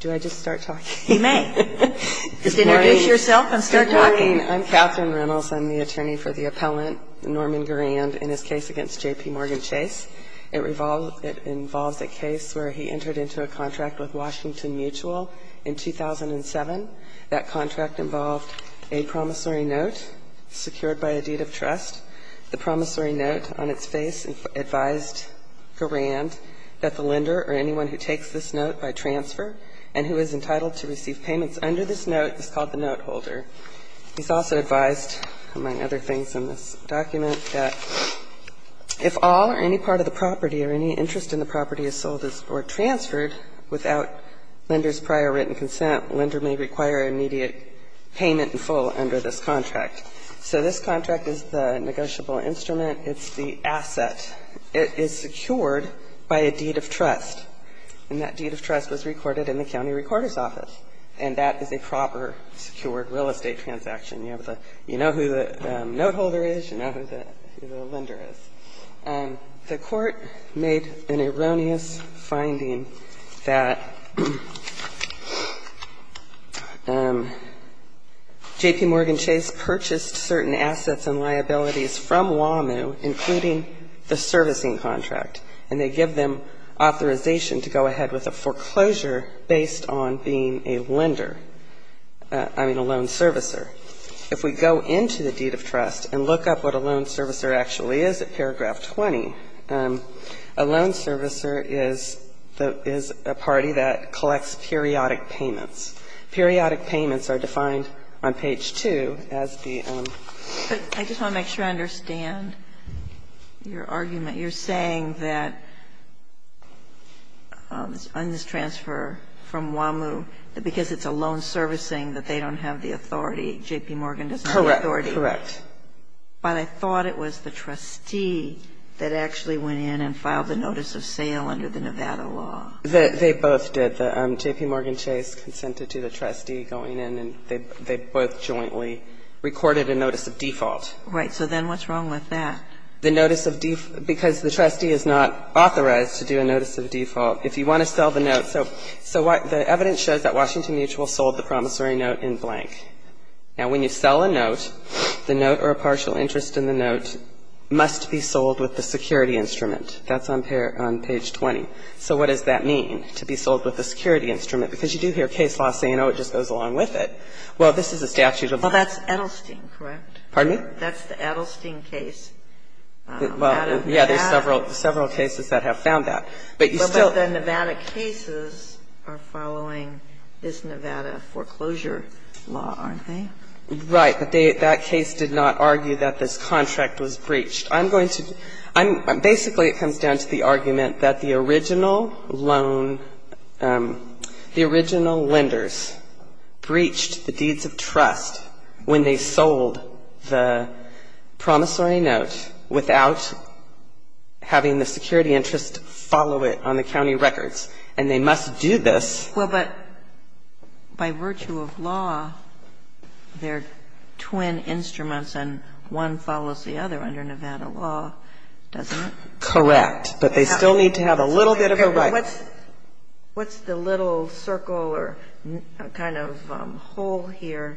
Do I just start talking? You may. Just introduce yourself and start talking. Good morning. I'm Katherine Reynolds. I'm the attorney for the appellant, Norman Garand, in his case against J.P. Morgan Chase. It involves a case where he entered into a contract with Washington Mutual in 2007. That contract involved a promissory note secured by a deed of trust. The promissory note on its face advised Garand that the lender or anyone who takes this note by transfer and who is entitled to receive payments under this note is called the note holder. He's also advised, among other things in this document, that if all or any part of the property or any interest in the property is sold or transferred without lender's prior written consent, lender may require immediate payment in full under this contract. So this contract is the negotiable instrument. It's the asset. It is secured by a deed of trust. And that deed of trust was recorded in the county recorder's office, and that is a proper secured real estate transaction. You know who the note holder is. You know who the lender is. The Court made an erroneous finding that J.P. Morgan Chase purchased certain assets from WAMU, including the servicing contract, and they give them authorization to go ahead with a foreclosure based on being a lender, I mean, a loan servicer. If we go into the deed of trust and look up what a loan servicer actually is at paragraph 20, a loan servicer is a party that collects periodic payments. Periodic payments are defined on page 2 as the own. But I just want to make sure I understand your argument. You're saying that on this transfer from WAMU, because it's a loan servicing that they don't have the authority, J.P. Morgan doesn't have the authority. Correct. Correct. But I thought it was the trustee that actually went in and filed the notice of sale under the Nevada law. They both did. J.P. Morgan Chase consented to the trustee going in, and they both jointly recorded a notice of default. Right. So then what's wrong with that? The notice of default, because the trustee is not authorized to do a notice of default. If you want to sell the note, so the evidence shows that Washington Mutual sold the promissory note in blank. Now, when you sell a note, the note or a partial interest in the note must be sold with the security instrument. That's on page 20. So what does that mean, to be sold with the security instrument? Because you do hear case law saying, oh, it just goes along with it. Well, this is a statute of the law. Well, that's Edelstein, correct? Pardon me? That's the Edelstein case. Well, yeah, there's several cases that have found that. But you still. But the Nevada cases are following this Nevada foreclosure law, aren't they? Right. But that case did not argue that this contract was breached. Basically, it comes down to the argument that the original loan, the original lenders breached the deeds of trust when they sold the promissory note without having the security interest follow it on the county records. And they must do this. Well, but by virtue of law, they're twin instruments and one follows the other under Nevada law, doesn't it? Correct. But they still need to have a little bit of a right. What's the little circle or kind of hole here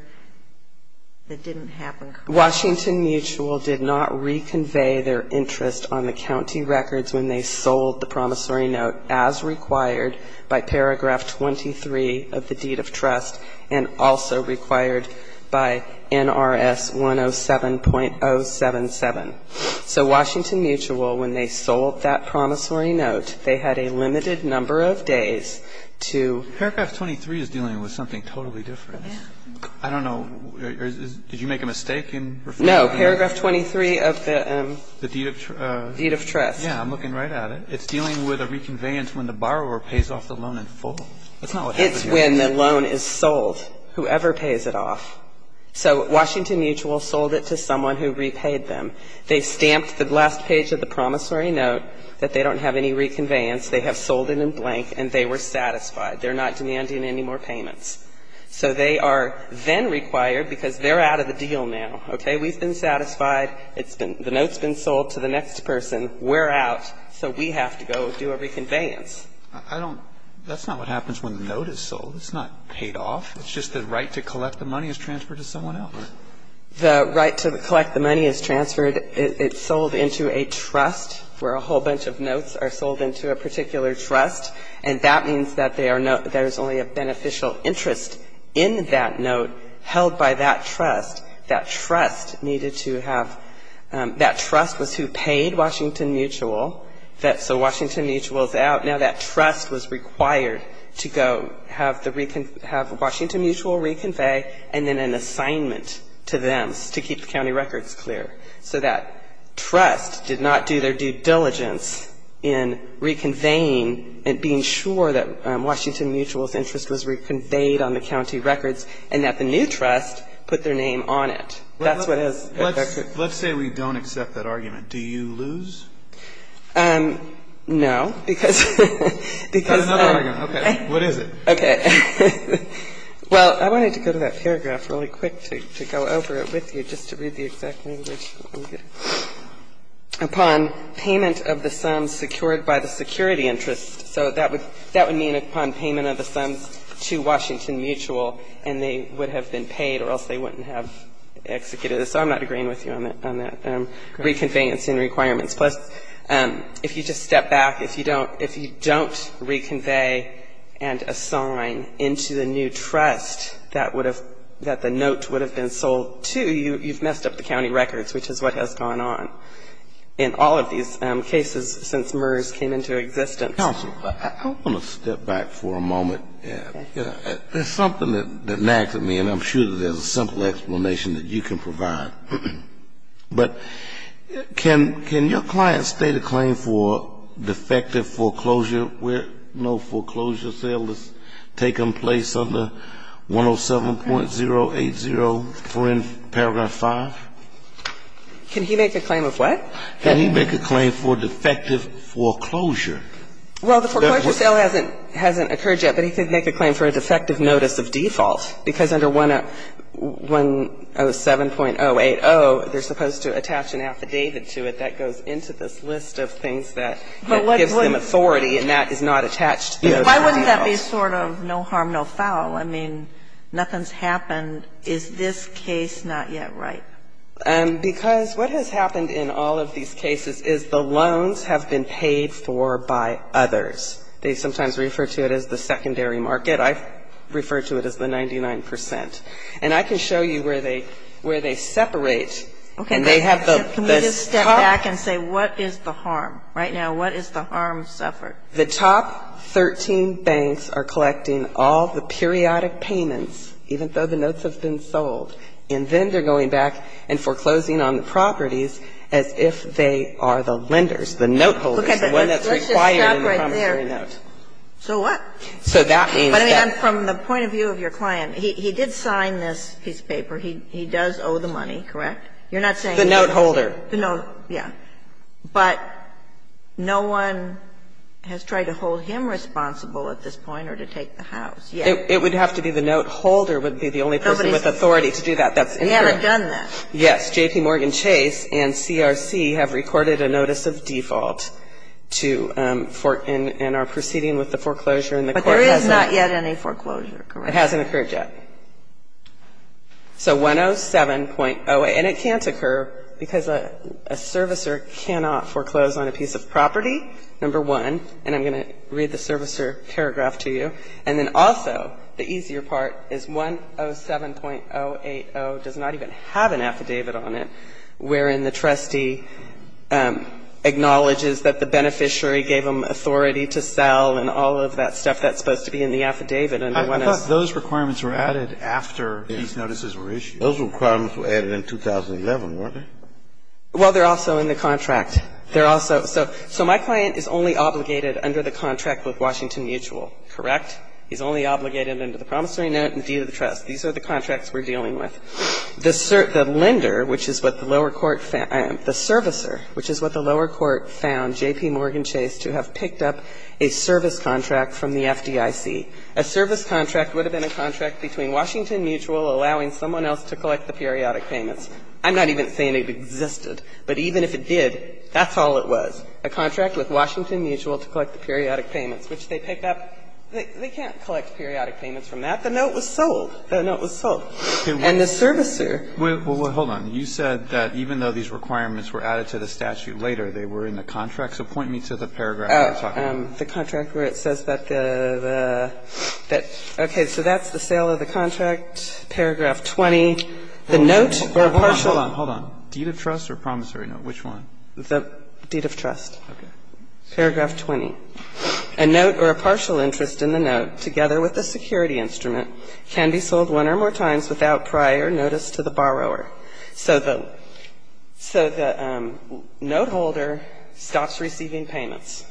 that didn't happen? Washington Mutual did not reconvey their interest on the county records when they sold the promissory note as required by paragraph 23 of the deed of trust and also required by NRS 107.077. So Washington Mutual, when they sold that promissory note, they had a limited number of days to ---- Paragraph 23 is dealing with something totally different. Yeah. I don't know. Did you make a mistake in referring to that? No. Paragraph 23 of the ---- The deed of ---- Deed of trust. Yeah. I'm looking right at it. It's dealing with a reconveyance when the borrower pays off the loan in full. It's not what happened here. When the loan is sold, whoever pays it off. So Washington Mutual sold it to someone who repaid them. They stamped the last page of the promissory note that they don't have any reconveyance. They have sold it in blank, and they were satisfied. They're not demanding any more payments. So they are then required, because they're out of the deal now, okay? We've been satisfied. It's been ---- the note's been sold to the next person. We're out. So we have to go do a reconveyance. I don't ---- that's not what happens when the note is sold. It's not paid off. It's just the right to collect the money is transferred to someone else, right? The right to collect the money is transferred. It's sold into a trust where a whole bunch of notes are sold into a particular trust, and that means that they are not ---- there's only a beneficial interest in that note held by that trust. That trust needed to have ---- that trust was who paid Washington Mutual. So Washington Mutual is out. Now that trust was required to go have the ---- have Washington Mutual reconvey and then an assignment to them to keep the county records clear. So that trust did not do their due diligence in reconveying and being sure that Washington Mutual's interest was reconveyed on the county records, and that the new trust put their name on it. That's what has affected ---- Let's say we don't accept that argument. Do you lose? No, because ---- Another argument. Okay. What is it? Okay. Well, I wanted to go to that paragraph really quick to go over it with you, just to read the exact language. Upon payment of the sums secured by the security interest. So that would mean upon payment of the sums to Washington Mutual, and they would have been paid or else they wouldn't have executed it. So I'm not agreeing with you on that, reconveying and seeing requirements. Plus, if you just step back, if you don't reconvey and assign into the new trust that would have ---- that the note would have been sold to, you've messed up the county records, which is what has gone on in all of these cases since MERS came into existence. Counsel, I want to step back for a moment. Okay. There's something that nags at me, and I'm sure that there's a simple explanation that you can provide. But can your client state a claim for defective foreclosure where no foreclosure sale has taken place under 107.080 for in paragraph 5? Can he make a claim of what? Can he make a claim for defective foreclosure? Well, the foreclosure sale hasn't occurred yet, but he could make a claim for a defective notice of default, because under 107.080, they're supposed to attach an affidavit to it that goes into this list of things that gives them authority, and that is not attached to those details. Why wouldn't that be sort of no harm, no foul? I mean, nothing's happened. Is this case not yet right? Because what has happened in all of these cases is the loans have been paid for by others. They sometimes refer to it as the secondary market. I refer to it as the 99 percent. And I can show you where they separate, and they have the top. Okay. Can we just step back and say what is the harm? Right now, what is the harm suffered? The top 13 banks are collecting all the periodic payments, even though the notes have been sold, and then they're going back and foreclosing on the properties as if they are the lenders, the note holders, the one that's required in the promissory note. Let's just stop right there. So what? So that means that. But, I mean, from the point of view of your client, he did sign this piece of paper. He does owe the money, correct? You're not saying he's the note holder. The note, yeah. But no one has tried to hold him responsible at this point or to take the house. Yeah. It would have to be the note holder would be the only person with authority to do that. That's incorrect. We haven't done that. Yes. J.P. Morgan Chase and CRC have recorded a notice of default to for and are proceeding with the foreclosure. But there is not yet any foreclosure, correct? It hasn't occurred yet. So 107.08. And it can't occur because a servicer cannot foreclose on a piece of property, number one. And I'm going to read the servicer paragraph to you. And then also the easier part is 107.080 does not even have an affidavit on it wherein the trustee acknowledges that the beneficiary gave him authority to sell and all of that stuff that's supposed to be in the affidavit. I thought those requirements were added after these notices were issued. Those requirements were added in 2011, weren't they? Well, they're also in the contract. They're also so my client is only obligated under the contract with Washington Mutual, correct? He's only obligated under the promissory note and deed of the trust. These are the contracts we're dealing with. The lender, which is what the lower court found the servicer, which is what the lower court found J.P. Morgan Chase to have picked up a service contract from the FDIC. A service contract would have been a contract between Washington Mutual allowing someone else to collect the periodic payments. I'm not even saying it existed. But even if it did, that's all it was, a contract with Washington Mutual to collect the periodic payments, which they picked up. They can't collect periodic payments from that. The note was sold. That note was sold. And the servicer ---- Well, hold on. You said that even though these requirements were added to the statute later, they were in the contract. So point me to the paragraph you're talking about. The contract where it says that the ---- okay. So that's the sale of the contract, paragraph 20. The note or partial ---- Hold on. Hold on. Deed of trust or promissory note? Which one? The deed of trust. Okay. Paragraph 20. A note or a partial interest in the note together with the security instrument can be sold one or more times without prior notice to the borrower. So the note holder stops receiving payments.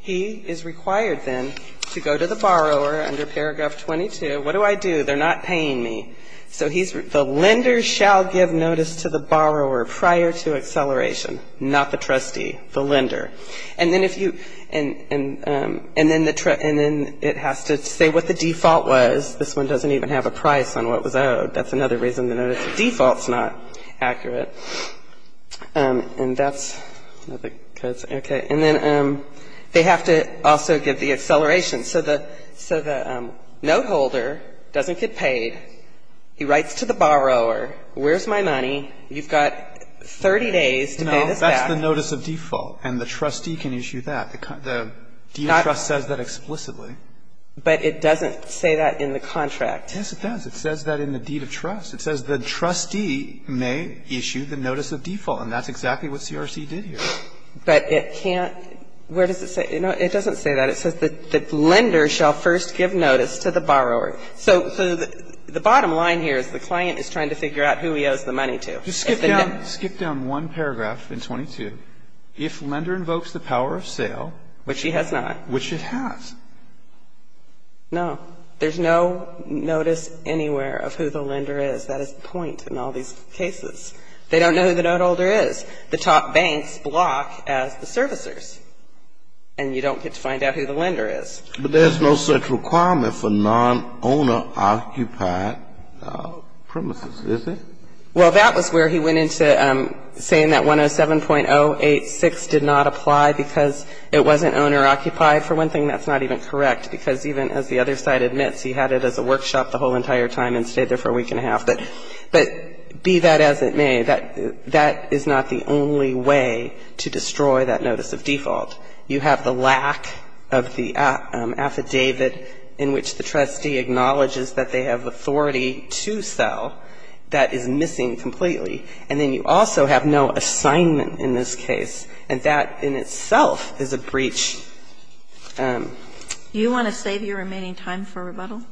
He is required then to go to the borrower under paragraph 22. What do I do? They're not paying me. So he's ---- the lender shall give notice to the borrower prior to acceleration, not the trustee, the lender. And then if you ---- and then it has to say what the default was. This one doesn't even have a price on what was owed. That's another reason the notice of default is not accurate. And that's ---- okay. And then they have to also give the acceleration. So the note holder doesn't get paid. He writes to the borrower. Where's my money? You've got 30 days to pay this back. That's the notice of default. And the trustee can issue that. The deed of trust says that explicitly. But it doesn't say that in the contract. Yes, it does. It says that in the deed of trust. It says the trustee may issue the notice of default. And that's exactly what CRC did here. But it can't ---- where does it say? No, it doesn't say that. It says that the lender shall first give notice to the borrower. So the bottom line here is the client is trying to figure out who he owes the money Just skip down one paragraph in 22. If lender invokes the power of sale. Which he has not. Which it has. No. There's no notice anywhere of who the lender is. That is the point in all these cases. They don't know who the note holder is. The top banks block as the servicers. And you don't get to find out who the lender is. But there's no such requirement for nonowner-occupied premises, is there? Well, that was where he went into saying that 107.086 did not apply because it wasn't owner-occupied. For one thing, that's not even correct, because even as the other side admits, he had it as a workshop the whole entire time and stayed there for a week and a half. But be that as it may, that is not the only way to destroy that notice of default. You have the lack of the affidavit in which the trustee acknowledges that they have authority to sell that is missing completely. And then you also have no assignment in this case. And that in itself is a breach. Do you want to save your remaining time for rebuttal?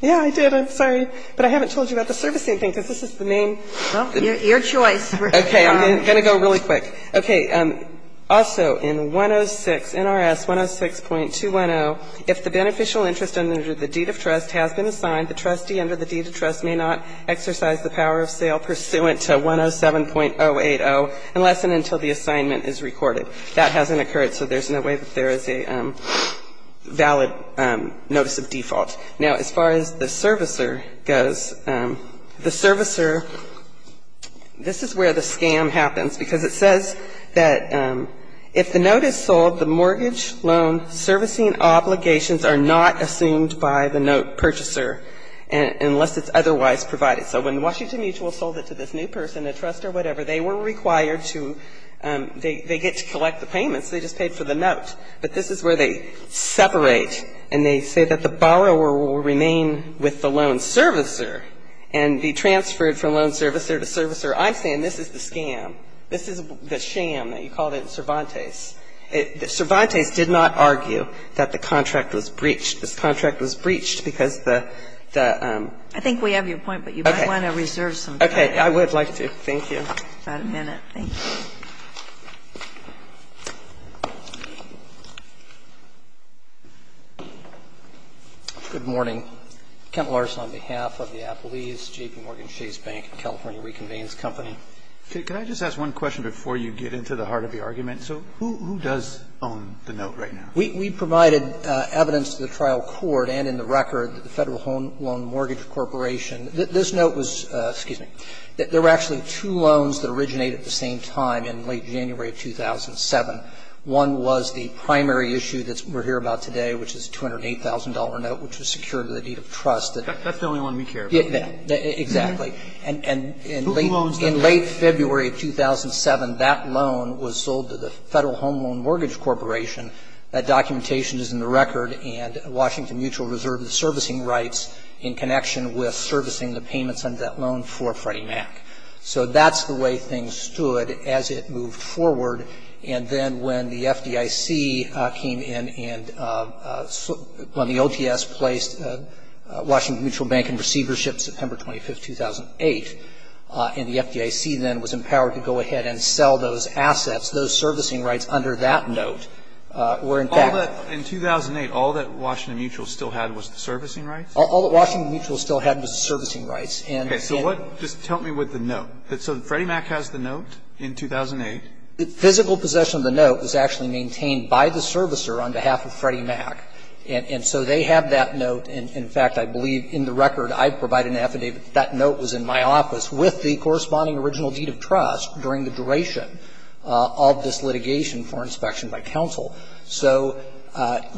Yeah, I did. I'm sorry. But I haven't told you about the servicing thing, because this is the name. Well, your choice. Okay. I'm going to go really quick. Okay. Also, in 106, NRS 106.210, if the beneficial interest under the deed of trust has been assigned, the trustee under the deed of trust may not exercise the power of sale pursuant to 107.080 unless and until the assignment is recorded. That hasn't occurred, so there's no way that there is a valid notice of default. Now, as far as the servicer goes, the servicer, this is where the scam happens, because it says that if the note is sold, the mortgage loan servicing obligations are not assumed by the note purchaser unless it's otherwise provided. So when Washington Mutual sold it to this new person, a trust or whatever, they were required to they get to collect the payments. They just paid for the note. But this is where they separate, and they say that the borrower will remain with the loan servicer and be transferred from loan servicer to servicer. I'm saying this is the scam. This is the sham. You called it Cervantes. Cervantes did not argue that the contract was breached. This contract was breached because the the I think we have your point, but you might want to reserve some time. Okay. I would like to. Thank you. About a minute. Thank you. Good morning. Kent Larson on behalf of the Applease, JPMorgan Chase Bank, California Reconvenes Company. Could I just ask one question before you get into the heart of the argument? So who does own the note right now? We provided evidence to the trial court and in the record that the Federal Home Loan Mortgage Corporation, this note was, excuse me, there were actually two loans that originated at the same time in late January of 2007. One was the primary issue that we're here about today, which is a $208,000 note, which was secured to the deed of trust. That's the only one we care about. Exactly. And in late February of 2007, that loan was sold to the Federal Home Loan Mortgage Corporation. That documentation is in the record, and Washington Mutual reserved the servicing rights in connection with servicing the payments under that loan for Freddie Mac. So that's the way things stood as it moved forward. And then when the FDIC came in and when the OTS placed Washington Mutual Bank in 2005-2008, and the FDIC then was empowered to go ahead and sell those assets, those servicing rights under that note, were in fact. All that, in 2008, all that Washington Mutual still had was the servicing rights? All that Washington Mutual still had was the servicing rights. Okay. So what, just tell me what the note. So Freddie Mac has the note in 2008. The physical possession of the note was actually maintained by the servicer on behalf of Freddie Mac. And so they have that note. And in fact, I believe in the record I provide an affidavit that that note was in my office with the corresponding original deed of trust during the duration of this litigation for inspection by counsel. So,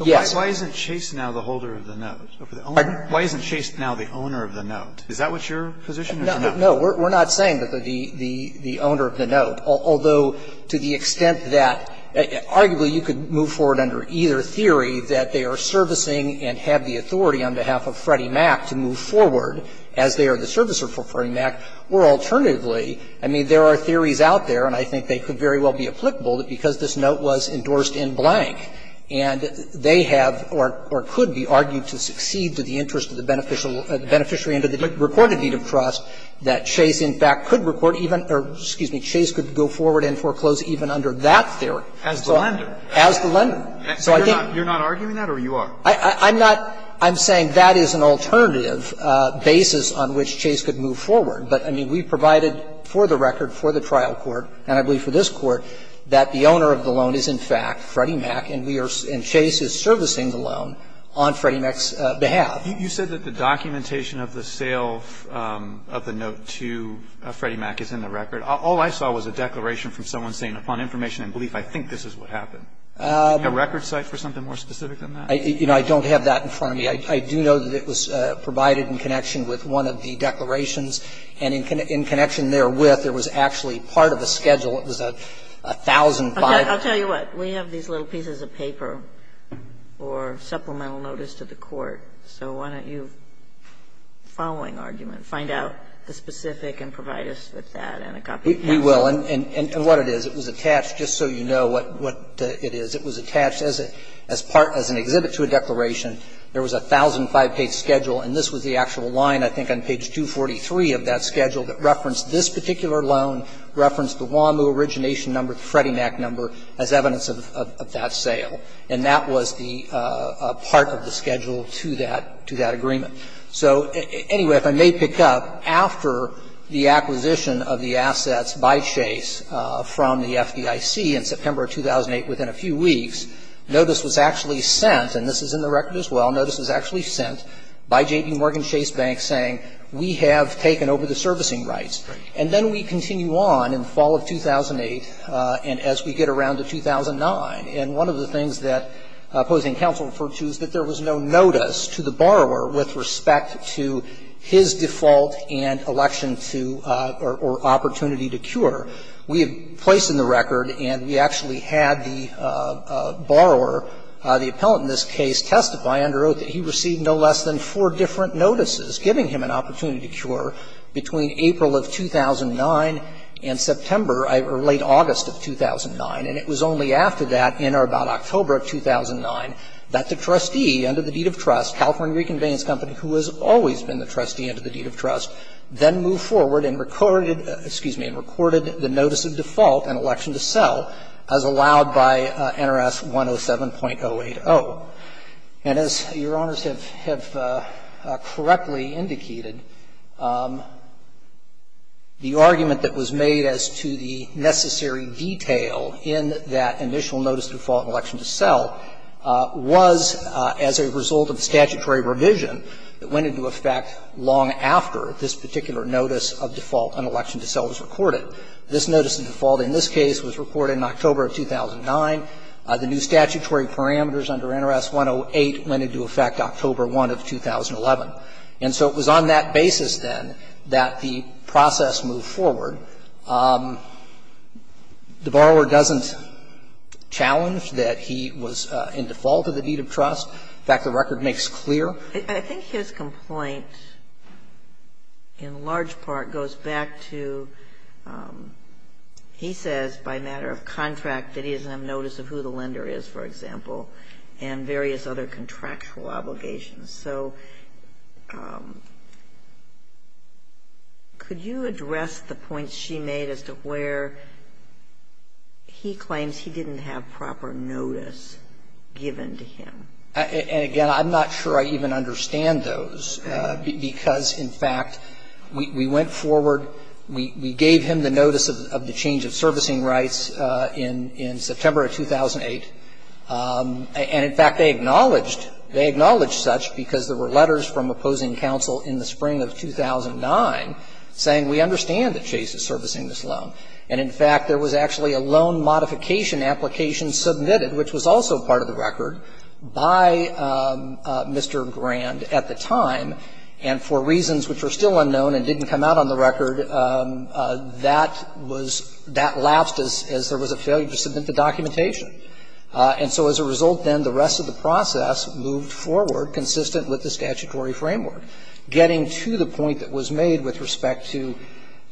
yes. But why isn't Chase now the holder of the note? Pardon? Why isn't Chase now the owner of the note? Is that what's your position or the note? No. We're not saying that the owner of the note, although to the extent that arguably you could move forward under either theory, that they are servicing and have the authority on behalf of Freddie Mac to move forward as they are the servicer for Freddie Mac, or alternatively, I mean, there are theories out there, and I think they could very well be applicable, that because this note was endorsed in blank and they have or could be argued to succeed to the interest of the beneficiary under the recorded deed of trust, that Chase, in fact, could record even or, excuse me, Chase could go forward and foreclose even under that theory. As the lender. As the lender. So I think. You're not arguing that or you are? I'm not. I'm saying that is an alternative basis on which Chase could move forward. But, I mean, we provided for the record, for the trial court, and I believe for this court, that the owner of the loan is, in fact, Freddie Mac and we are and Chase is of the note to Freddie Mac is in the record. All I saw was a declaration from someone saying, upon information and belief, I think this is what happened. Do you have a record site for something more specific than that? You know, I don't have that in front of me. I do know that it was provided in connection with one of the declarations and in connection therewith, there was actually part of a schedule. It was 1,005. Okay. I'll tell you what. We have these little pieces of paper or supplemental notice to the Court, so why don't you, following argument, find out the specific and provide us with that and a copy of that. We will. And what it is, it was attached, just so you know what it is. It was attached as part, as an exhibit to a declaration. There was a 1,005-page schedule, and this was the actual line, I think, on page 243 of that schedule that referenced this particular loan, referenced the WAMU origination number, the Freddie Mac number as evidence of that sale. And that was the part of the schedule to that agreement. So anyway, if I may pick up, after the acquisition of the assets by Chase from the FDIC in September of 2008, within a few weeks, notice was actually sent, and this is in the record as well, notice was actually sent by J.B. Morgan Chase Bank saying, we have taken over the servicing rights. And then we continue on in the fall of 2008 and as we get around to 2009. And one of the things that opposing counsel referred to is that there was no notice to the borrower with respect to his default and election to or opportunity to cure. We have placed in the record, and we actually had the borrower, the appellant in this case, testify under oath that he received no less than four different notices giving him an opportunity to cure between April of 2009 and September or late August of 2009. And it was only after that in or about October of 2009 that the trustee under the deed of trust, California Reconveyance Company, who has always been the trustee under the deed of trust, then moved forward and recorded, excuse me, and recorded the notice of default and election to sell as allowed by NRS 107.080. And as Your Honors have correctly indicated, the argument that was made as to the necessary detail in that initial notice of default and election to sell was as a result of a statutory revision that went into effect long after this particular notice of default and election to sell was recorded. This notice of default in this case was recorded in October of 2009. The new statutory parameters under NRS 108 went into effect October 1 of 2011. And so it was on that basis, then, that the process moved forward. The borrower doesn't challenge that he was in default of the deed of trust. In fact, the record makes clear. I think his complaint in large part goes back to, he says by matter of contract that he doesn't have notice of who the lender is, for example, and various other contractual obligations. So could you address the point she made as to where he claims he didn't have proper notice given to him? And again, I'm not sure I even understand those because, in fact, we went forward, we gave him the notice of the change of servicing rights in September of 2008. And in fact, they acknowledged, they acknowledged such because there were letters from opposing counsel in the spring of 2009 saying we understand that Chase is servicing this loan. And in fact, there was actually a loan modification application submitted, which was also part of the record, by Mr. Grand at the time. And for reasons which were still unknown and didn't come out on the record, that was, that lapsed as there was a failure to submit the documentation. And so as a result then, the rest of the process moved forward, consistent with the statutory framework. Getting to the point that was made with respect to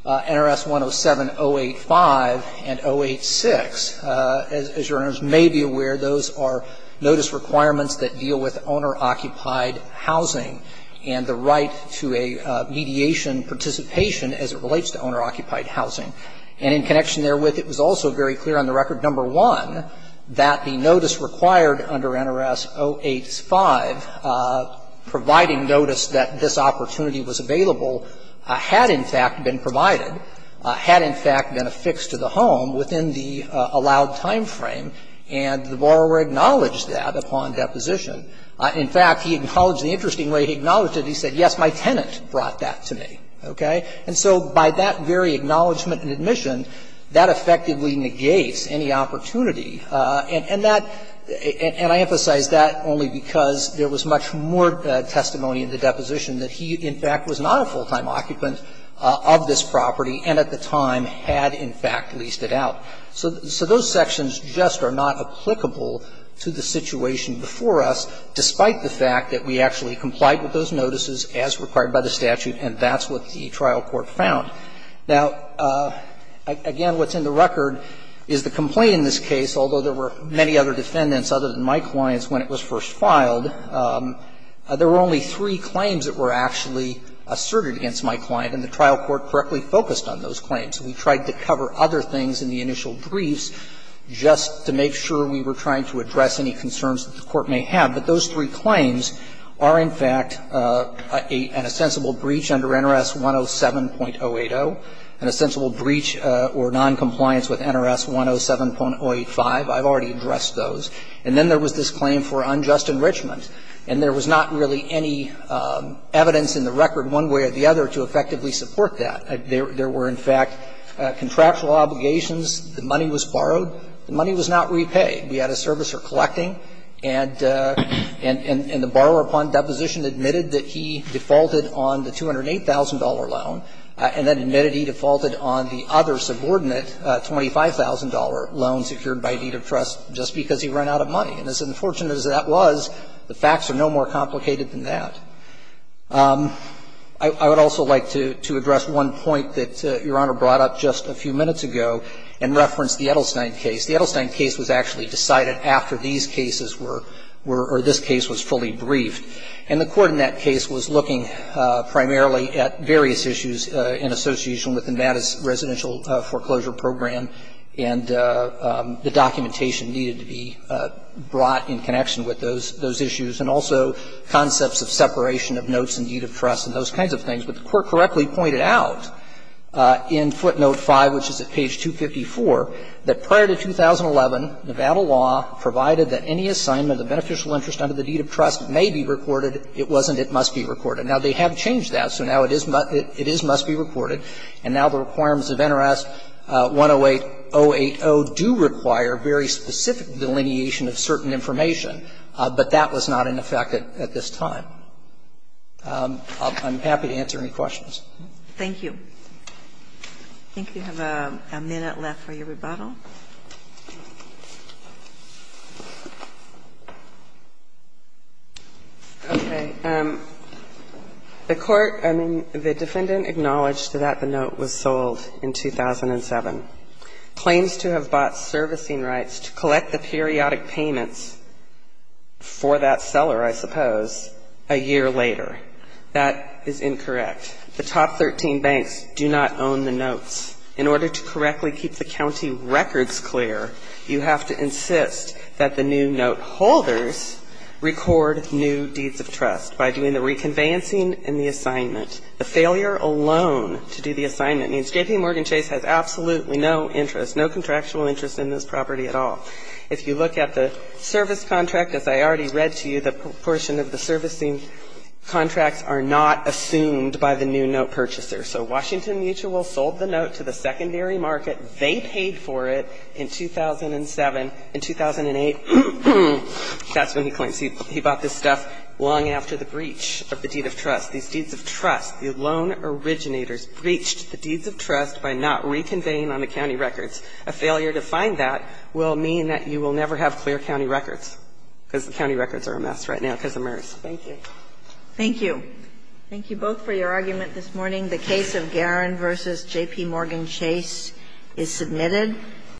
NRS 107085 and 086, as you may be aware, those are notice requirements that deal with owner-occupied housing and the right to a mediation participation as it relates to owner-occupied housing. And in connection therewith, it was also very clear on the record, number one, that the notice required under NRS 085, providing notice that this opportunity was available, had, in fact, been provided, had, in fact, been affixed to the home within the allowed time frame, and the borrower acknowledged that upon deposition. In fact, he acknowledged, the interesting way he acknowledged it, he said, yes, my tenant brought that to me, okay? And so by that very acknowledgment and admission, that effectively negates any opportunity. And that, and I emphasize that only because there was much more testimony in the deposition that he, in fact, was not a full-time occupant of this property and, at the time, had, in fact, leased it out. So those sections just are not applicable to the situation before us, despite the fact that we actually complied with those notices as required by the statute, and that's what the trial court found. Now, again, what's in the record is the complaint in this case, although there were many other defendants other than my clients when it was first filed, there were only three claims that were actually asserted against my client, and the trial court correctly focused on those claims. We tried to cover other things in the initial briefs just to make sure we were trying to address any concerns that the court may have. But those three claims are, in fact, an ostensible breach under NRS 107.080, an ostensible breach or noncompliance with NRS 107.085. I've already addressed those. And then there was this claim for unjust enrichment, and there was not really any evidence in the record one way or the other to effectively support that. There were, in fact, contractual obligations. The money was borrowed. The money was not repaid. We had a servicer collecting, and the borrower upon deposition admitted that he defaulted on the $208,000 loan, and then admitted he defaulted on the other subordinate $25,000 loan secured by deed of trust just because he ran out of money. And as unfortunate as that was, the facts are no more complicated than that. I would also like to address one point that Your Honor brought up just a few minutes ago in reference to the Edelstein case. The Edelstein case was actually decided after these cases were or this case was fully briefed, and the Court in that case was looking primarily at various issues in association with Nevada's residential foreclosure program, and the documentation needed to be brought in connection with those issues, and also concepts of separation of notes and deed of trust and those kinds of things. But the Court correctly pointed out in footnote 5, which is at page 254, that prior to 2011, Nevada law provided that any assignment of beneficial interest under the deed of trust may be recorded. It wasn't. It must be recorded. Now, they have changed that, so now it is must be recorded. And now the requirements of NRS 108.080 do require very specific delineation of certain information, but that was not in effect at this time. I'm happy to answer any questions. Thank you. I think you have a minute left for your rebuttal. Okay. The Court, I mean, the Defendant acknowledged that the note was sold in 2007. Claims to have bought servicing rights to collect the periodic payments for that seller, I suppose, a year later. That is incorrect. The top 13 banks do not own the notes. In order to correctly keep the county records clear, you have to insist that the new note holders record new deeds of trust by doing the reconveyancing and the assignment. The failure alone to do the assignment means JPMorgan Chase has absolutely no interest, no contractual interest in this property at all. If you look at the service contract, as I already read to you, the portion of the servicing contracts are not assumed by the new note purchaser. So Washington Mutual sold the note to the secondary market. They paid for it in 2007. In 2008, that's when he claims he bought this stuff long after the breach of the deed of trust. These deeds of trust, the loan originators breached the deeds of trust by not reconveying on the county records. A failure to find that will mean that you will never have clear county records because the county records are a mess right now because of MERS. Thank you. Thank you. Thank you both for your argument this morning. The case of Garan v. JPMorgan Chase is submitted.